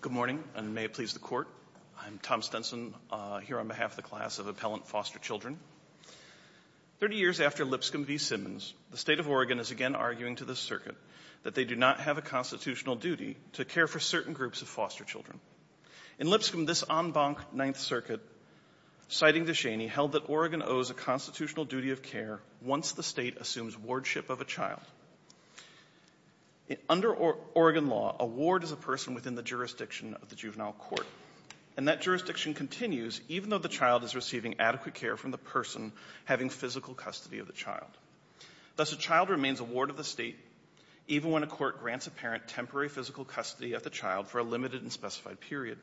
Good morning, and may it please the Court. I'm Tom Stenson, here on behalf of the Class of Appellant Foster Children. Thirty years after Lipscomb v. Simmons, the State of Oregon is again arguing to the Circuit that they do not have a constitutional duty to care for certain groups of foster children. In Lipscomb, this en banc Ninth Circuit, citing DeShaney, held that Oregon owes a constitutional duty of care once the State assumes wardship of a child. Under Oregon law, a ward is a person within the jurisdiction of the juvenile court, and that jurisdiction continues even though the child is receiving adequate care from the person having physical custody of the child. Thus, a child remains a ward of the State even when a court grants a parent temporary physical custody of the child for a limited and specified period.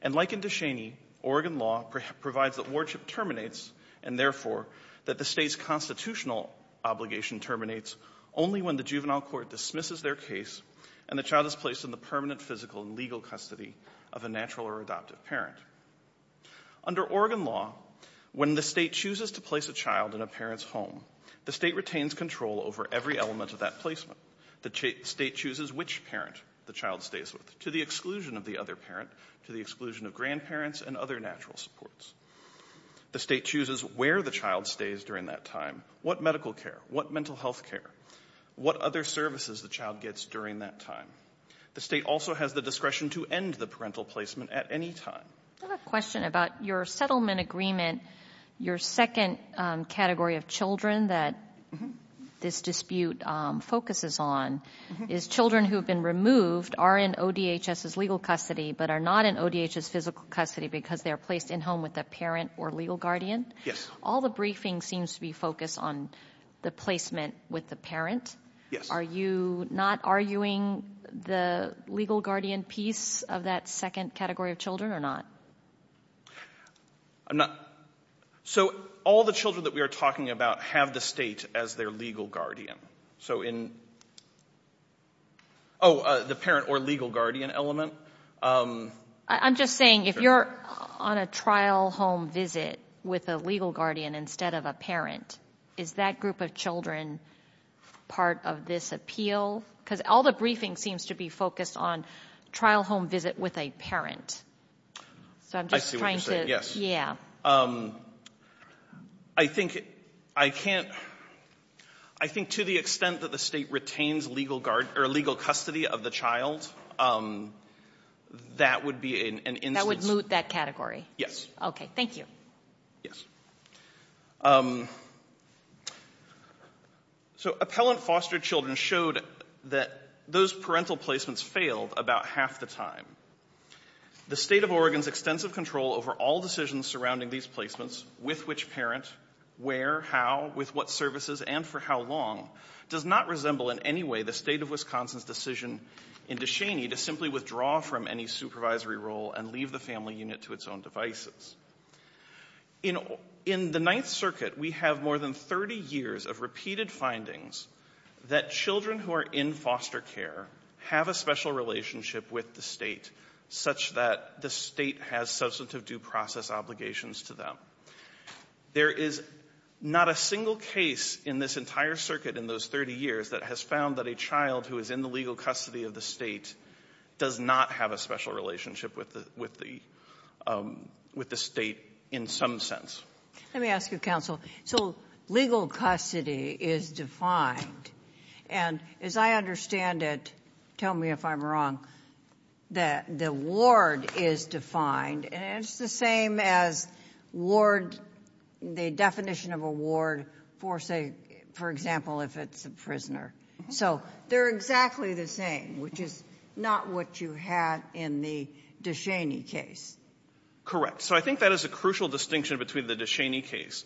And like in DeShaney, Oregon law provides that wardship terminates, and, therefore, that the State's constitutional obligation terminates only when the juvenile court dismisses their case and the child is placed in the permanent physical and legal custody of a natural or adoptive parent. Under Oregon law, when the State chooses to place a child in a parent's home, the State retains control over every element of that placement. The State chooses which parent the child stays with, to the exclusion of the other parent, to the exclusion of grandparents and other natural supports. The State chooses where the child stays during that time, what medical care, what mental health care, what other services the child gets during that time. The State also has the discretion to end the parental placement at any time. I have a question about your settlement agreement, your second category of children that this dispute focuses on, is children who have been removed are in ODHS's legal custody but are not in ODHS's physical custody because they are placed in home with a parent or legal guardian? Yes. All the briefing seems to be focused on the placement with the parent. Yes. Are you not arguing the legal guardian piece of that second category of children or not? So all the children that we are talking about have the State as their legal guardian. So in, oh, the parent or legal guardian element. I'm just saying, if you're on a trial home visit with a legal guardian instead of a parent, is that group of children part of this appeal? Because all the briefing seems to be focused on trial home visit with a parent. I see what you're saying, yes. Yeah. I think I can't, I think to the extent that the State retains legal guard, or legal custody of the child, that would be an instance. That would moot that category? Yes. Okay. Thank you. Yes. So appellant foster children showed that those parental placements failed about half the time. The State of Oregon's extensive control over all decisions surrounding these placements, with which parent, where, how, with what services, and for how long, does not resemble in any way the State of Wisconsin's decision in DeShaney to simply withdraw from any supervisory role and leave the family unit to its own devices. In the Ninth Circuit, we have more than 30 years of repeated findings that children who are in foster care have a special relationship with the State such that the State has substantive due process obligations to them. There is not a single case in this entire circuit in those 30 years that has found that a child who is in the legal custody of the State does not have a special relationship with the State in some sense. Let me ask you, Counsel. So legal custody is defined. And as I understand it, tell me if I'm wrong, that the ward is defined, and it's the same as ward, the definition of a ward for, say, for example, if it's a prisoner. So they're exactly the same, which is not what you had in the DeShaney case. Correct. So I think that is a crucial distinction between the DeShaney case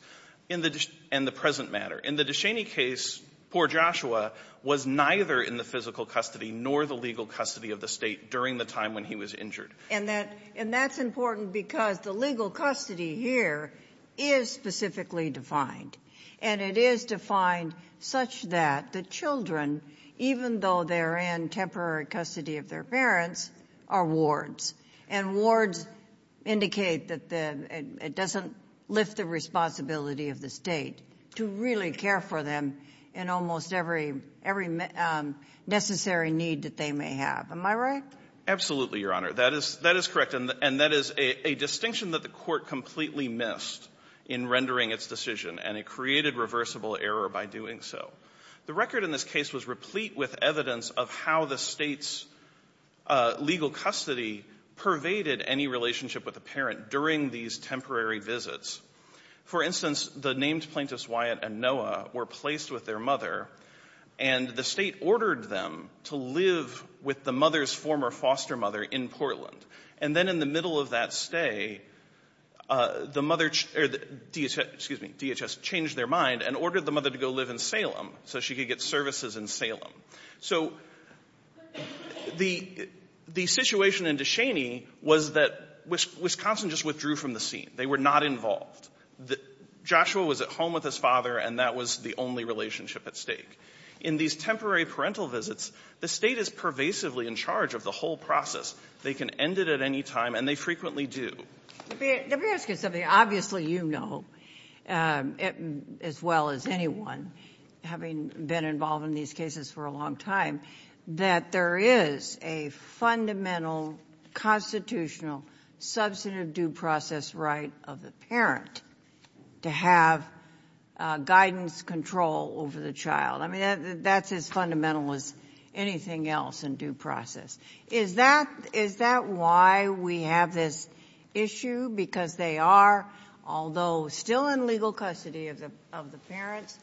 and the present matter. In the DeShaney case, poor Joshua was neither in the physical custody nor the legal custody of the State during the time when he was injured. And that's important because the legal custody here is specifically defined. And it is defined such that the children, even though they're in temporary custody of their parents, are wards. And wards indicate that it doesn't lift the responsibility of the State to really care for them in almost every necessary need that they may have. Am I right? Absolutely, Your Honor. That is correct. And that is a distinction that the Court completely missed in rendering its decision. And it created reversible error by doing so. The record in this case was replete with evidence of how the State's legal custody pervaded any relationship with the parent during these temporary visits. For instance, the named plaintiffs, Wyatt and Noah, were placed with their mother, and the State ordered them to live with the mother's former foster mother in Portland. And then in the middle of that stay, the mother or the DHS, excuse me, DHS changed their mind and ordered the mother to go live in Salem so she could get services in Salem. So the situation in Descheny was that Wisconsin just withdrew from the scene. They were not involved. Joshua was at home with his father, and that was the only relationship at stake. In these temporary parental visits, the State is pervasively in charge of the whole process. They can end it at any time, and they frequently do. Let me ask you something. Obviously you know, as well as anyone having been involved in these cases for a long time, that there is a fundamental constitutional substantive due process right of the parent to have guidance, control over the child. I mean, that's as fundamental as anything else in due process. Is that why we have this issue? Because they are, although still in legal custody of the parents,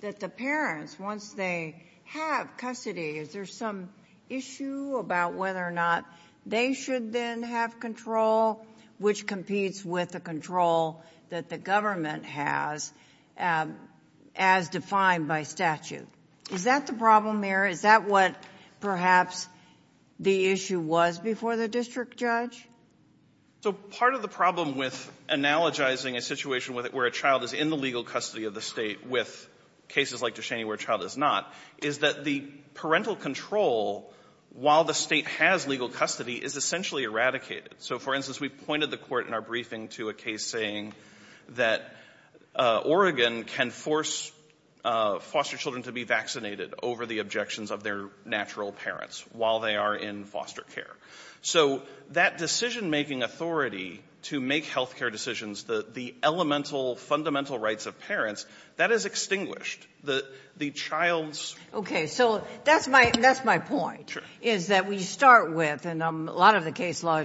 that the parents, once they have custody, is there some issue about whether or not they should then have control, which competes with the control that the government has as defined by statute? Is that the problem here? Is that what perhaps the issue was before the district judge? So part of the problem with analogizing a situation where a child is in the legal custody of the State with cases like Ducheney where a child is not, is that the parental control, while the State has legal custody, is essentially eradicated. So, for instance, we pointed the Court in our briefing to a case saying that Oregon can force foster children to be vaccinated over the objections of their natural parents while they are in foster care. So that decision-making authority to make health care decisions, the elemental, fundamental rights of parents, that is extinguished. The child's... Okay, so that's my point, is that we start with, and a lot of the case law,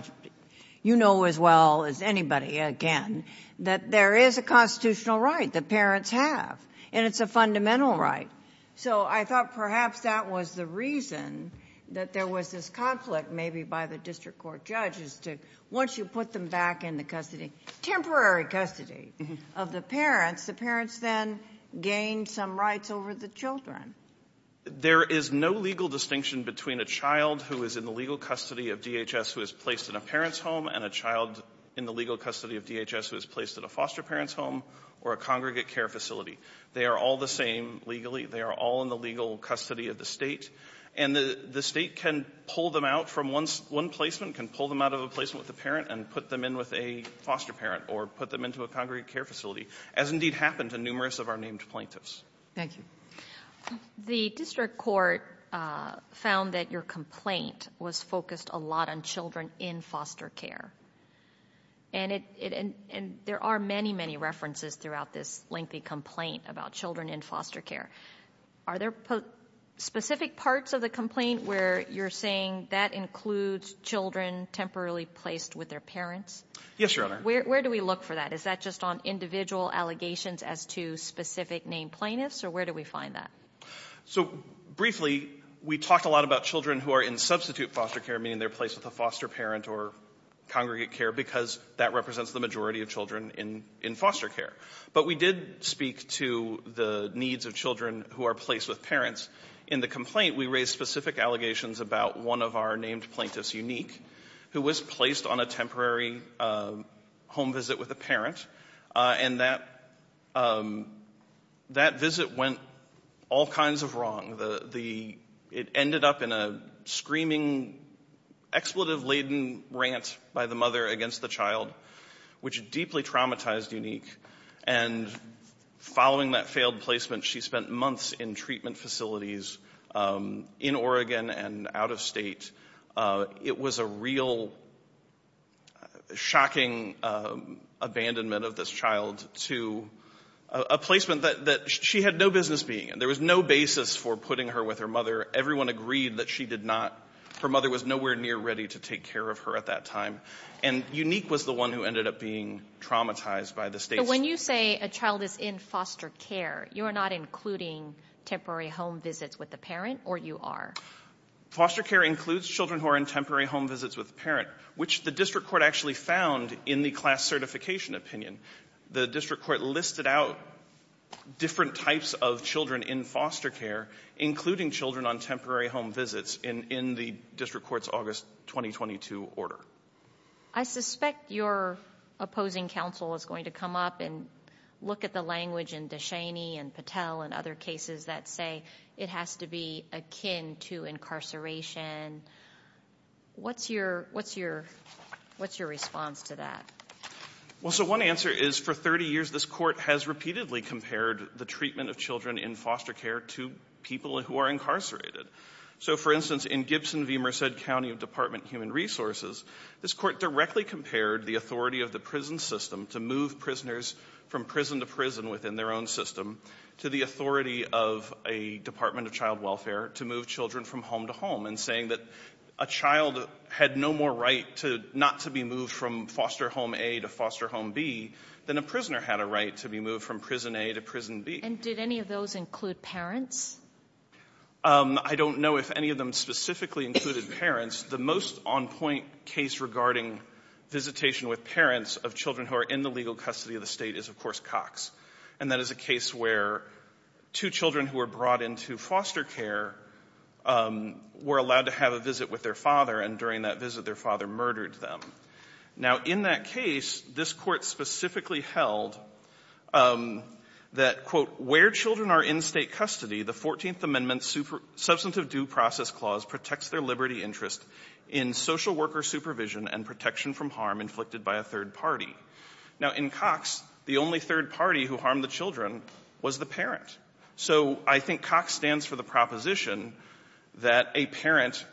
you know as well as anybody, again, that there is a constitutional right that parents have, and it's a fundamental right. So I thought perhaps that was the reason that there was this conflict maybe by the district court judges to, once you put them back in the custody, temporary custody of the parents, the parents then gain some rights over the children. There is no legal distinction between a child who is in the legal custody of DHS who is placed in a parent's home and a child in the legal custody of DHS who is placed in a foster parent's home or a congregate care facility. They are all the same legally. They are all in the legal custody of the state, and the state can pull them out from one placement, can pull them out of a placement with the parent and put them in with a foster parent or put them into a congregate care facility, as indeed happened to numerous of our named plaintiffs. Thank you. The district court found that your complaint was focused a lot on children in foster care, and there are many, many references throughout this lengthy complaint about children in foster care. Are there specific parts of the complaint where you're saying that includes children temporarily placed with their parents? Yes, Your Honor. Where do we look for that? Is that just on individual allegations as to specific named plaintiffs, or where do we find that? So briefly, we talked a lot about children who are in substitute foster care, meaning they're placed with a foster parent or congregate care, because that represents the majority of children in foster care. But we did speak to the needs of children who are placed with parents. In the complaint, we raised specific allegations about one of our named plaintiffs, Unique, who was placed on a temporary home visit with a parent, and that visit went all kinds of wrong. It ended up in a screaming, expletive-laden rant by the mother against the child, which deeply traumatized Unique. And following that failed placement, she spent months in treatment facilities in Oregon and out of State. It was a real shocking abandonment of this child to a placement that she had no business being in. There was no basis for putting her with her mother. Everyone agreed that she did not. Her mother was nowhere near ready to take care of her at that time. And Unique was the one who ended up being traumatized by the State's ---- So when you say a child is in foster care, you are not including temporary home visits with the parent, or you are? Foster care includes children who are in temporary home visits with the parent, which the district court actually found in the class certification opinion. The district court listed out different types of children in foster care, including children on temporary home visits, in the district court's August 2022 order. I suspect your opposing counsel is going to come up and look at the language in DeShaney and Patel and other cases that say it has to be akin to incarceration. What's your response to that? Well, so one answer is, for 30 years, this court has repeatedly compared the treatment of children in foster care to people who are incarcerated. So, for instance, in Gibson v. Merced County Department of Human Resources, this court directly compared the authority of the prison system to move prisoners from prison to prison within their own system to the authority of a Department of Child Welfare to move children from home to home, and saying that a child had no more right not to be moved from foster home A to foster home B than a prisoner had a right to be moved from prison A to prison B. And did any of those include parents? I don't know if any of them specifically included parents. The most on-point case regarding visitation with parents of children who are in the legal custody of the state is, of course, Cox. And that is a case where two children who were brought into foster care were allowed to have a visit with their father, and during that visit, their father murdered them. Now in that case, this court specifically held that, quote, where children are in state custody, the 14th Amendment's Substantive Due Process Clause protects their liberty interest in social worker supervision and protection from harm inflicted by a third party. Now, in Cox, the only third party who harmed the children was the parent. So I think Cox stands for the proposition that a parent,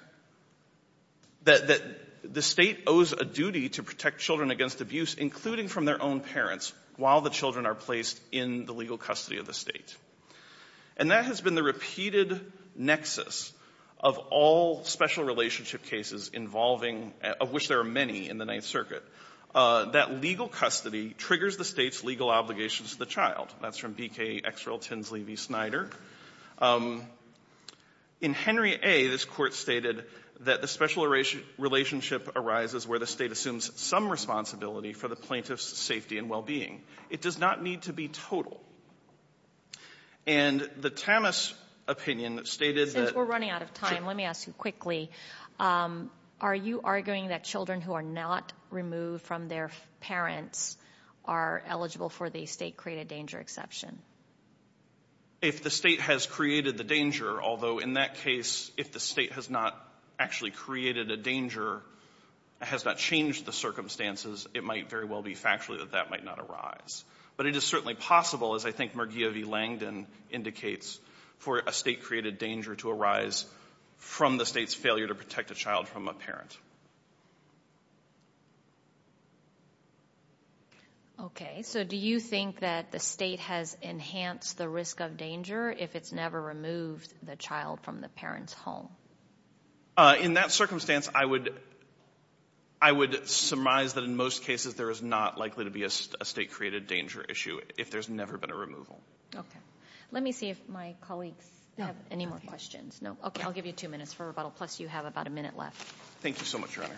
that the state owes a duty to protect children against abuse, including from their own parents, while the children are placed in the legal custody of the state. And that has been the repeated nexus of all special relationship cases involving, of which there are many in the Ninth Circuit, that legal custody triggers the state's legal obligations to the child. That's from BK Xrel Tinsley v. Snyder. In Henry A., this court stated that the special relationship arises where the state assumes some responsibility for the plaintiff's safety and well-being. It does not need to be total. And the Tamas opinion stated that Since we're running out of time, let me ask you quickly, are you arguing that children who are not removed from their parents are eligible for the state-created danger exception? If the state has created the danger, although in that case, if the state has not actually created a danger, has not changed the circumstances, it might very well be factually that that might not arise. But it is certainly possible, as I think Mergia v. Langdon indicates, for a state-created danger to arise from the state's failure to protect a child from a Okay. So, do you think that the state has enhanced the risk of danger if it's never removed the child from the parent's home? In that circumstance, I would surmise that in most cases there is not likely to be a state-created danger issue if there's never been a removal. Okay. Let me see if my colleagues have any more questions. No? Okay. I'll give you two minutes for rebuttal. Plus, you have about a minute left. Thank you so much, Your Honor.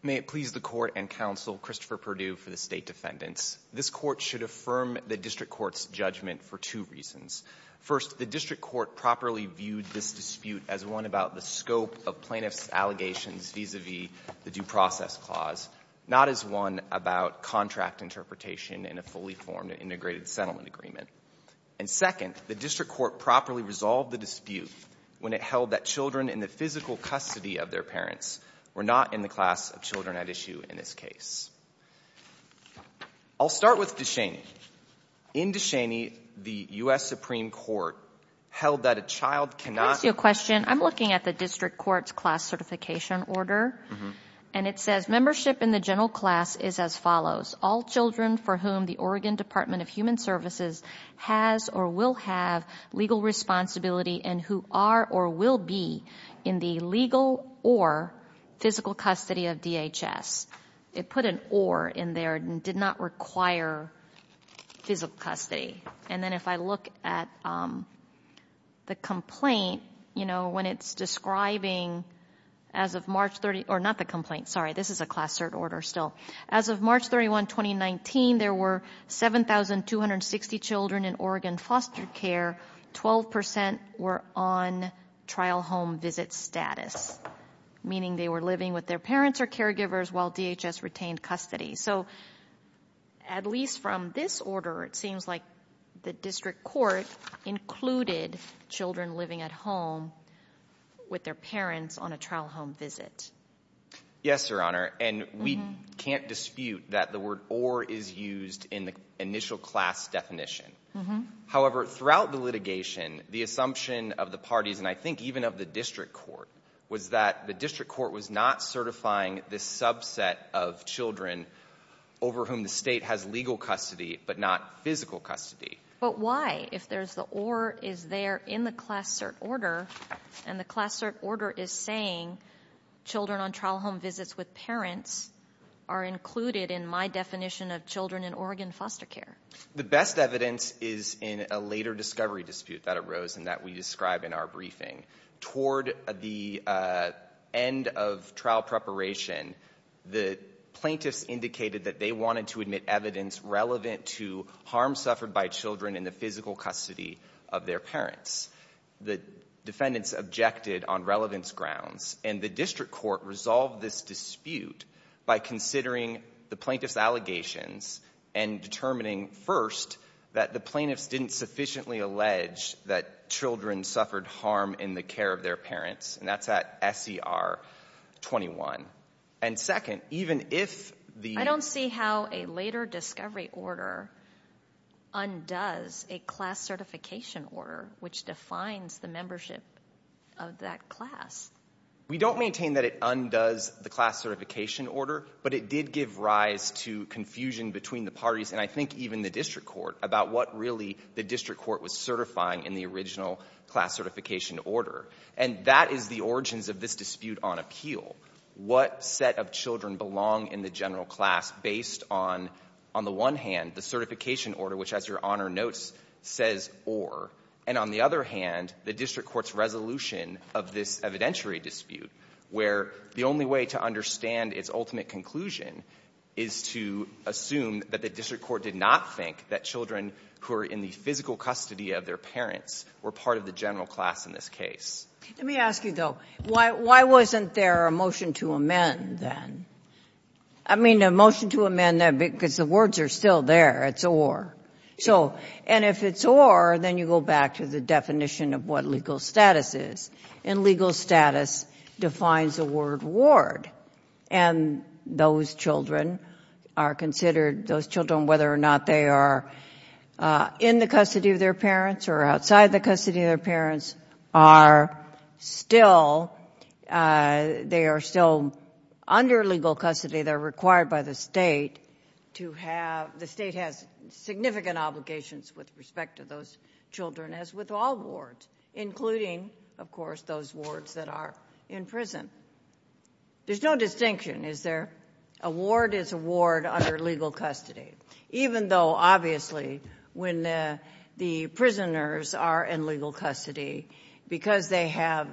May it please the Court and Counsel Christopher Perdue for the State Defendants. This Court should affirm the district court's judgment for two reasons. First, the district court properly viewed this dispute as one about the scope of plaintiff's allegations vis-a-vis the due process clause, not as one about contract interpretation in a fully formed and integrated settlement agreement. And second, the district court properly resolved the dispute when it held that children in the physical custody of their parents were not in the class of children at issue in this case. I'll start with DeShaney. In DeShaney, the U.S. Supreme Court held that a child cannot Let me ask you a question. I'm looking at the district court's class certification order, and it says, membership in the general class is as follows. All children for whom the Oregon Department of Human Services has or will have legal responsibility and who are or will be in the legal or physical custody of DHS. It put an or in there and did not require physical custody. And then if I look at the complaint, you know, when it's describing as of March 30, or not the complaint, sorry, this is a class cert order still. As of March 31, 2019, there were 7,260 children in Oregon foster care. Twelve percent were on trial home visit status, meaning they were living with their parents or caregivers while DHS retained custody. So at least from this order, it seems like the district court included children living at home with their parents on a trial home visit. Yes, Your Honor. And we can't dispute that the word or is used in the initial class definition. However, throughout the litigation, the assumption of the parties, and I think even of the district court, was that the district court was not certifying this subset of children over whom the state has legal custody but not physical custody. But why, if there's the or is there in the class cert order, and the class cert order is saying children on trial home visits with parents are included in my definition of children in Oregon foster care? The best evidence is in a later discovery dispute that arose and that we describe in our briefing. Toward the end of trial preparation, the plaintiffs indicated that they wanted to admit evidence relevant to harm suffered by children in the physical custody of their parents. The defendants objected on relevance grounds, and the district court resolved this dispute by considering the plaintiffs' allegations and determining, first, that the plaintiffs didn't sufficiently allege that children suffered harm in the care of their parents, and that's at S.E.R. 21. And second, even if the... I don't see how a later discovery order undoes a class certification order, which defines the membership of that class. We don't maintain that it undoes the class certification order, but it did give rise to confusion between the parties, and I think even the district court, about what really the district court was certifying in the original class certification order. And that is the origins of this dispute on appeal. What set of children belong in the general class based on, on the one hand, the certification order, which, as Your Honor notes, says or, and on the other hand, the district court's resolution of this evidentiary dispute, where the only way to understand its ultimate conclusion is to assume that the district court did not think that children who are in the physical custody of their parents were part of the general class in this case. Let me ask you, though, why wasn't there a motion to amend, then? I mean, a motion to amend, because the words are still there. It's or. So, and if it's or, then you go back to the definition of what legal status is. And legal status defines the word ward. And those children are considered, those children, whether or not they are in the custody of their parents or outside the custody of their parents, are still, they are still under legal custody. They're required by the state to have, the state has significant obligations with respect to those children, as with all wards, including, of course, those wards that are in prison. There's no distinction, is there? A ward is a ward under legal custody. Even though, obviously, when the prisoners are in legal custody, because they have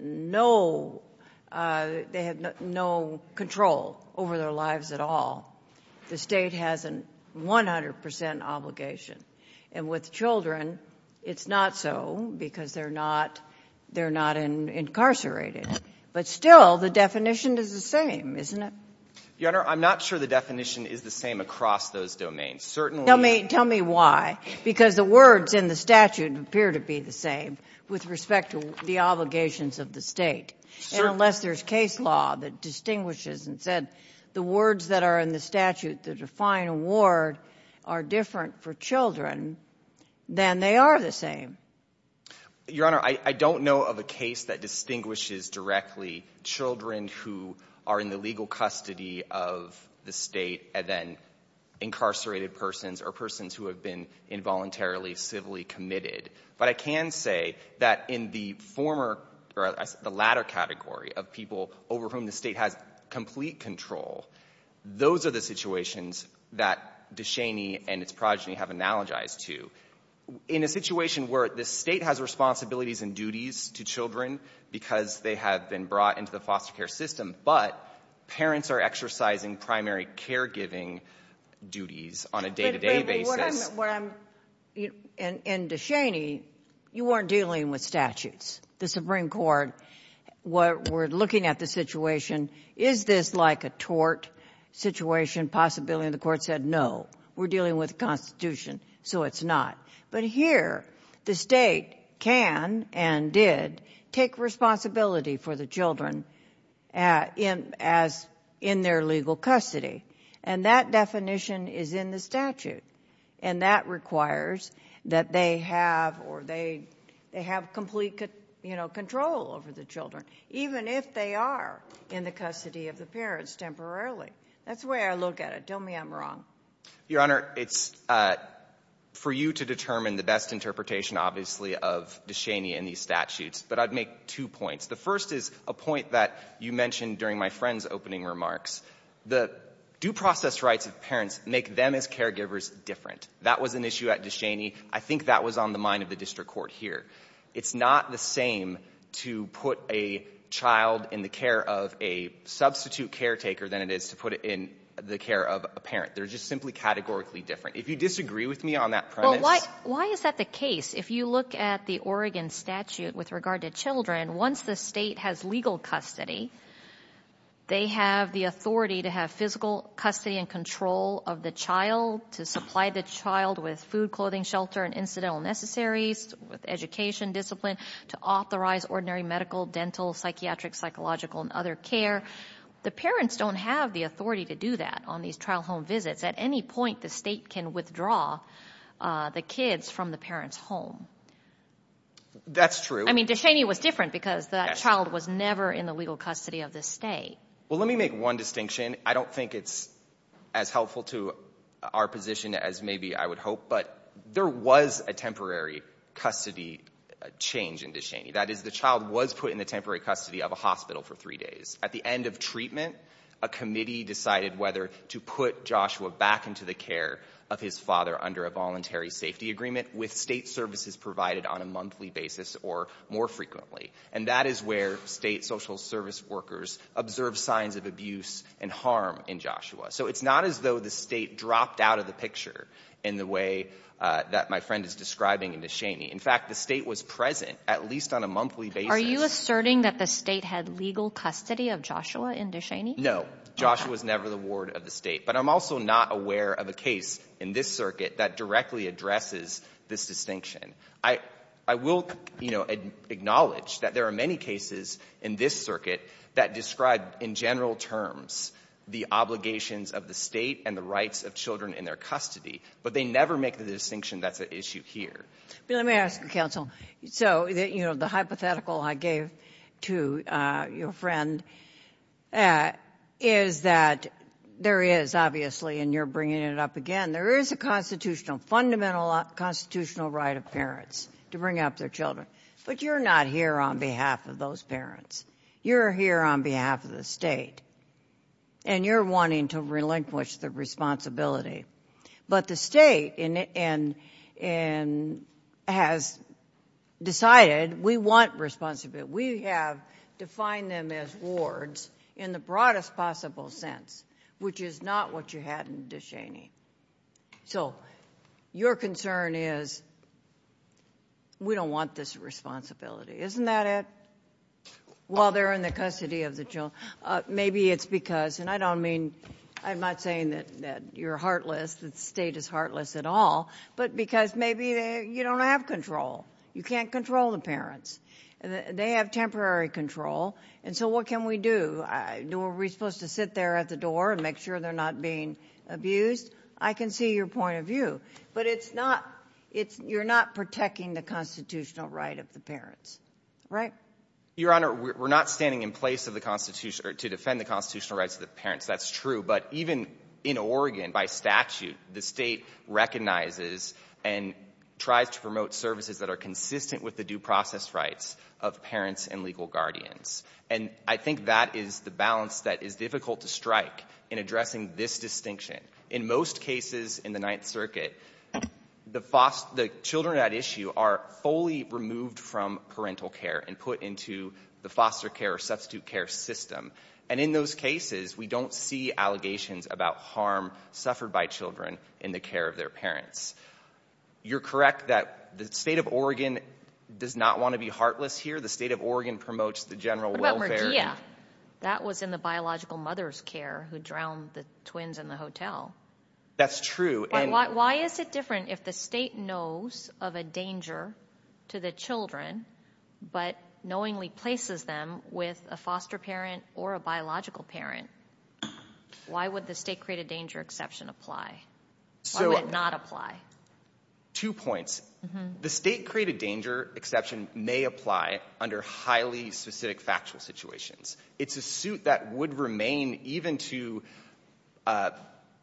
no, they have no control over their lives at all, the state has a 100 percent obligation. And with children, it's not so, because they're not, they're not incarcerated. But still, the definition is the same, isn't it? Your Honor, I'm not sure the definition is the same across those domains. Certainly the ---- Tell me, tell me why. Because the words in the statute appear to be the same with respect to the obligations of the state. Sure. And unless there's case law that distinguishes and said the words that are in the statute that define a ward are different for children, then they are the same. Your Honor, I don't know of a case that distinguishes directly children who are in the legal custody of the state and then incarcerated persons or persons who have been involuntarily civilly committed. But I can say that in the former, or the latter category of people over whom the state has complete control, those are the situations that Descheny and its progeny have analogized to. In a situation where the state has responsibilities and duties to children because they have been brought into the foster care system, but parents are exercising primary caregiving duties on a day-to-day basis. But what I'm, what I'm, and Descheny, you weren't dealing with statutes. The Supreme Court were looking at the situation, is this like a tort situation, possibility, and the court said, no, we're dealing with the Constitution, so it's not. But here, the state can and did take responsibility for the children in, as in their legal custody. And that definition is in the statute. And that requires that they have, or they, they have complete, you know, control over the children, even if they are in the custody of the parents temporarily. That's the way I look at it. Don't me I'm wrong. Your Honor, it's, for you to determine the best interpretation, obviously, of Descheny in these statutes, but I'd make two points. The first is a point that you mentioned during my friend's opening remarks. The due process rights of parents make them, as caregivers, different. That was an issue at Descheny. I think that was on the mind of the district court here. It's not the same to put a child in the care of a substitute caretaker than it is to put it in the care of a parent. They're just simply categorically different. If you disagree with me on that premise — Well, why, why is that the case? If you look at the Oregon statute with regard to children, once the state has legal custody, they have the authority to have physical custody and control of the child, to supply the child with food, clothing, shelter, and incidental necessaries, with education discipline, to authorize ordinary medical, dental, psychiatric, psychological, and other care. The parents don't have the authority to do that on these trial home visits. At any point, the state can withdraw the kids from the parent's home. That's true. I mean, Descheny was different because that child was never in the legal custody of the state. Well, let me make one distinction. I don't think it's as helpful to our position as maybe I would hope, but there was a temporary custody change in Descheny. That is, the child was put in the temporary custody of a hospital for three days. At the end of treatment, a committee decided whether to put Joshua back into the care of his father under a voluntary safety agreement with state services provided on a monthly basis or more frequently. And that is where state social service workers observed signs of abuse and harm in Joshua. So it's not as though the state dropped out of the picture in the way that my friend is describing in Descheny. In fact, the state was present at least on a monthly basis. Are you asserting that the state had legal custody of Joshua in Descheny? No. Joshua was never the ward of the state. But I'm also not aware of a case in this circuit that directly addresses this distinction. I will acknowledge that there are many cases in this circuit that describe in general terms the obligations of the state and the rights of children in their custody, but they never make the distinction that's an issue here. Let me ask you, counsel. So, you know, the hypothetical I gave to your friend is that there is obviously, and you're bringing it up again, there is a constitutional, fundamental constitutional right of parents to bring up their children. But you're not here on behalf of those parents. You're here on behalf of the state. And you're wanting to relinquish the responsibility. But the state has decided we want responsibility. We have defined them as wards in the broadest possible sense, which is not what you had in Descheny. So your concern is we don't want this responsibility. Isn't that it? While they're in the custody of the children. Maybe it's because, and I don't mean, I'm not saying that you're heartless, the state is heartless at all, but because maybe you don't have control. You can't control the parents. They have temporary control. And so what can we do? Are we supposed to sit there at the door and make sure they're not being abused? I can see your point of view. But it's not, it's, you're not protecting the constitutional right of the parents. Right. Your Honor, we're not standing in place of the constitution to defend the constitutional rights of the parents. That's true. But even in Oregon, by statute, the state recognizes and tries to promote services that are consistent with the due process rights of parents and legal guardians. And I think that is the balance that is difficult to strike in addressing this distinction. In most cases in the Ninth Circuit, the children at issue are fully removed from parental care and put into the foster care or substitute care system. And in those cases, we don't see allegations about harm suffered by children in the care of their parents. You're correct that the state of Oregon does not want to be heartless here. The state of Oregon promotes the general welfare. That was in the biological mother's care who drowned the twins in the hotel. That's true. Why is it different if the state knows of a danger to the children, but knowingly places them with a foster parent or a biological parent? Why would the state-created danger exception apply? Why would it not apply? Two points. The state-created danger exception may apply under highly specific factual situations. It's a suit that would remain even to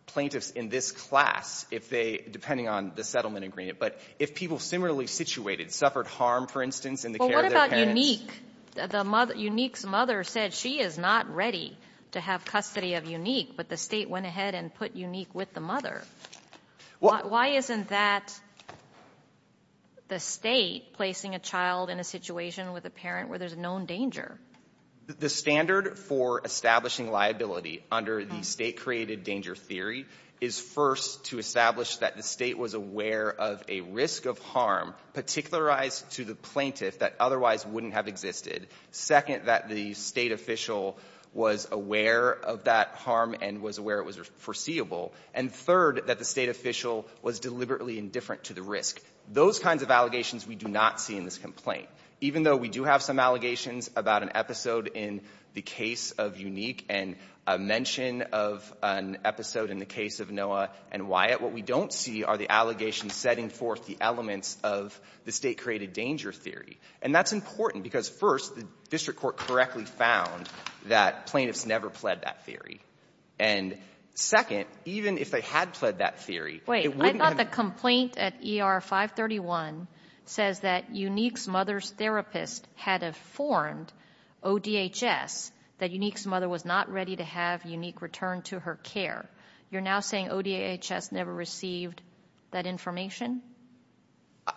plaintiffs in this class if they, depending on the settlement agreement, but if people similarly situated suffered harm, for instance, in the care of their parents. Well, what about Unique? Unique's mother said she is not ready to have custody of Unique, but the state went ahead and put Unique with the mother. Why isn't that the state placing a child in a situation with a parent where there's a known danger? The standard for establishing liability under the state-created danger theory is, first, to establish that the state was aware of a risk of harm particularized to the plaintiff that otherwise wouldn't have existed. Second, that the state official was aware of that harm and was aware it was foreseeable. And third, that the state official was deliberately indifferent to the risk. Those kinds of allegations we do not see in this complaint. Even though we do have some allegations about an episode in the case of Unique and a mention of an episode in the case of Noah and Wyatt, what we don't see are the allegations setting forth the elements of the state-created danger theory. And that's important because, first, the district court correctly found that plaintiffs never pled that theory. And, second, even if they had pled that theory, it wouldn't have been the case. 531 says that Unique's mother's therapist had informed ODHS that Unique's mother was not ready to have Unique return to her care. You're now saying ODHS never received that information?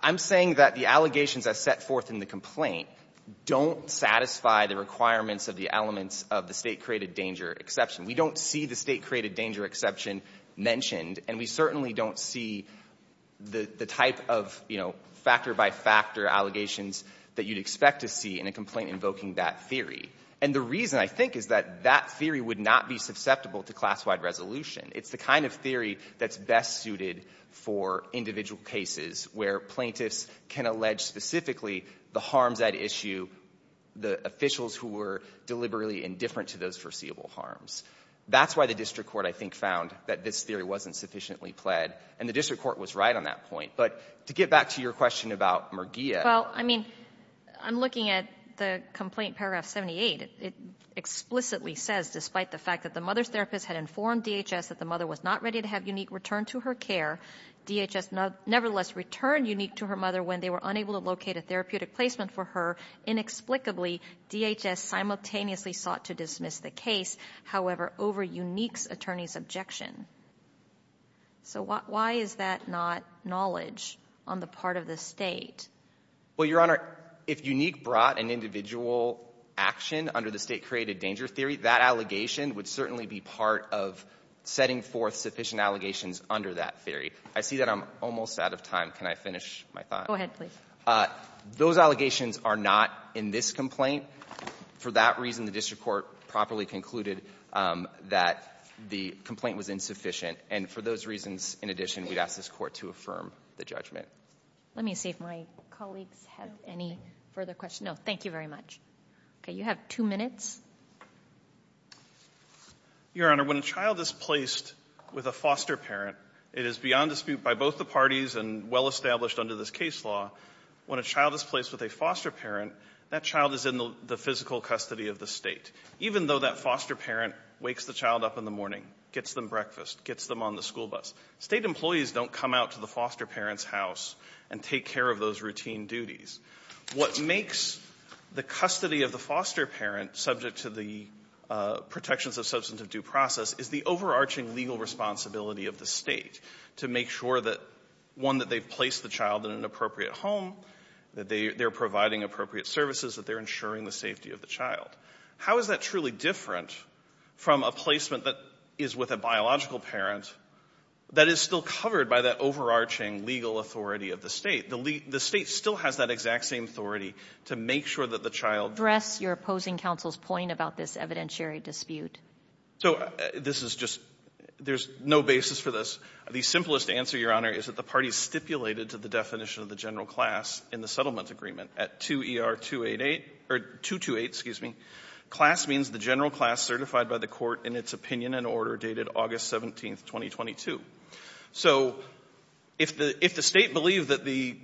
I'm saying that the allegations I set forth in the complaint don't satisfy the requirements of the elements of the state-created danger exception. We don't see the state-created danger exception mentioned, and we certainly don't see the type of, you know, factor by factor allegations that you'd expect to see in a complaint invoking that theory. And the reason, I think, is that that theory would not be susceptible to class-wide resolution. It's the kind of theory that's best suited for individual cases where plaintiffs can allege specifically the harms at issue, the officials who were deliberately indifferent to those foreseeable harms. That's why the district court, I think, found that this theory wasn't sufficiently pled. And the district court was right on that point. But to get back to your question about Murguia. Well, I mean, I'm looking at the complaint, paragraph 78. It explicitly says, despite the fact that the mother's therapist had informed DHS that the mother was not ready to have Unique return to her care, DHS nevertheless returned Unique to her mother when they were unable to locate a therapeutic placement for her. Inexplicably, DHS simultaneously sought to dismiss the case, however, over Unique's attorney's objection. So why is that not knowledge on the part of the state? Well, Your Honor, if Unique brought an individual action under the state-created danger theory, that allegation would certainly be part of setting forth sufficient allegations under that theory. I see that I'm almost out of time. Can I finish my thought? Go ahead, please. Those allegations are not in this complaint. For that reason, the district court properly concluded that the complaint was in sufficient, and for those reasons, in addition, we'd ask this court to affirm the judgment. Let me see if my colleagues have any further questions. No, thank you very much. Okay. You have two minutes. Your Honor, when a child is placed with a foster parent, it is beyond dispute by both the parties and well-established under this case law. When a child is placed with a foster parent, that child is in the physical custody of the state, even though that foster parent wakes the child up in the morning, gets them breakfast, gets them on the school bus. State employees don't come out to the foster parent's house and take care of those routine duties. What makes the custody of the foster parent subject to the protections of substantive due process is the overarching legal responsibility of the state to make sure that one, that they've placed the child in an appropriate home, that they're providing appropriate services, that they're ensuring the safety of the child. How is that truly different from a placement that is with a biological parent that is still covered by that overarching legal authority of the state? The state still has that exact same authority to make sure that the child Address your opposing counsel's point about this evidentiary dispute. So this is just, there's no basis for this. The simplest answer, Your Honor, is that the parties stipulated to the definition of the general class in the settlement agreement at 2ER-288, or 228, excuse me, class means the general class certified by the court in its opinion and order dated August 17th, 2022. So if the state believed that the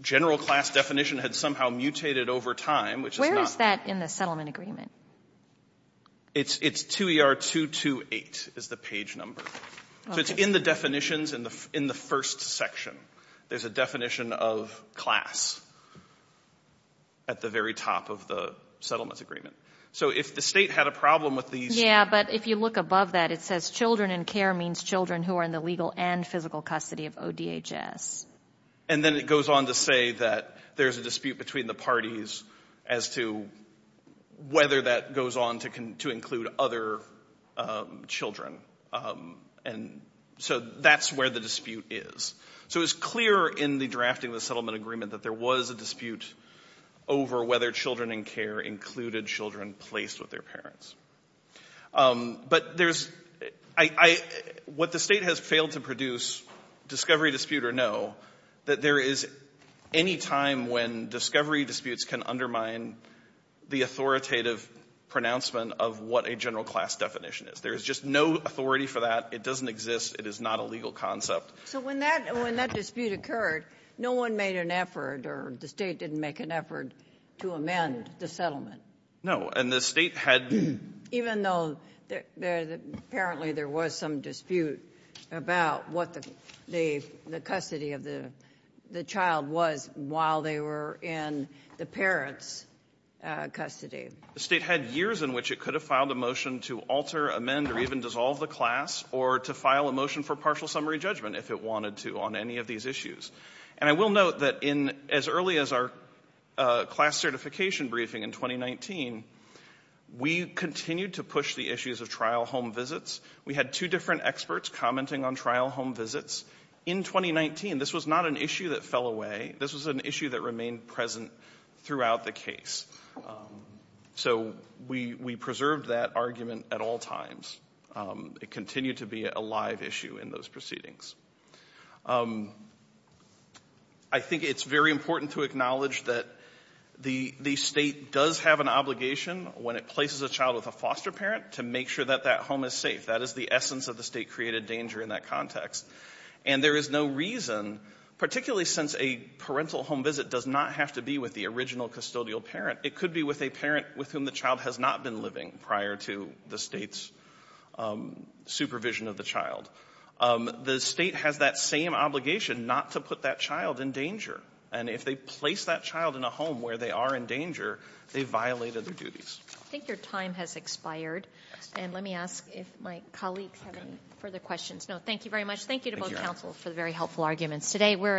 general class definition had somehow mutated over time, which is not Where is that in the settlement agreement? It's 2ER-228 is the page number. Okay. So it's in the definitions in the first section. There's a definition of class at the very top of the settlement agreement. So if the state had a problem with these. Yeah, but if you look above that, it says children in care means children who are in the legal and physical custody of ODHS. And then it goes on to say that there's a dispute between the parties as to whether that goes on to include other children. And so that's where the dispute is. So it's clear in the drafting of the settlement agreement that there was a dispute over whether children in care included children placed with their parents. But what the state has failed to produce, discovery, dispute, or no, that there is any time when discovery disputes can undermine the authoritative pronouncement of what a general class definition is. There is just no authority for that. It doesn't exist. It is not a legal concept. So when that dispute occurred, no one made an effort or the state didn't make an effort to amend the settlement. No. And the state had. Even though apparently there was some dispute about what the custody of the child was while they were in the parents' custody. The state had years in which it could have filed a motion to alter, amend, or even dissolve the class or to file a motion for partial summary judgment. If it wanted to on any of these issues. And I will note that in as early as our class certification briefing in 2019, we continued to push the issues of trial home visits. We had two different experts commenting on trial home visits in 2019. This was not an issue that fell away. This was an issue that remained present throughout the case. So we preserved that argument at all times. It continued to be a live issue in those proceedings. I think it's very important to acknowledge that the state does have an obligation when it places a child with a foster parent to make sure that that home is safe. That is the essence of the state-created danger in that context. And there is no reason, particularly since a parental home visit does not have to be with the original custodial parent, it could be with a parent with whom the child has not been living prior to the state's supervision of the child. The state has that same obligation not to put that child in danger. And if they place that child in a home where they are in danger, they violated their duties. I think your time has expired. And let me ask if my colleagues have any further questions. No, thank you very much. Thank you to both counsel for the very helpful arguments. Today we're adjourned.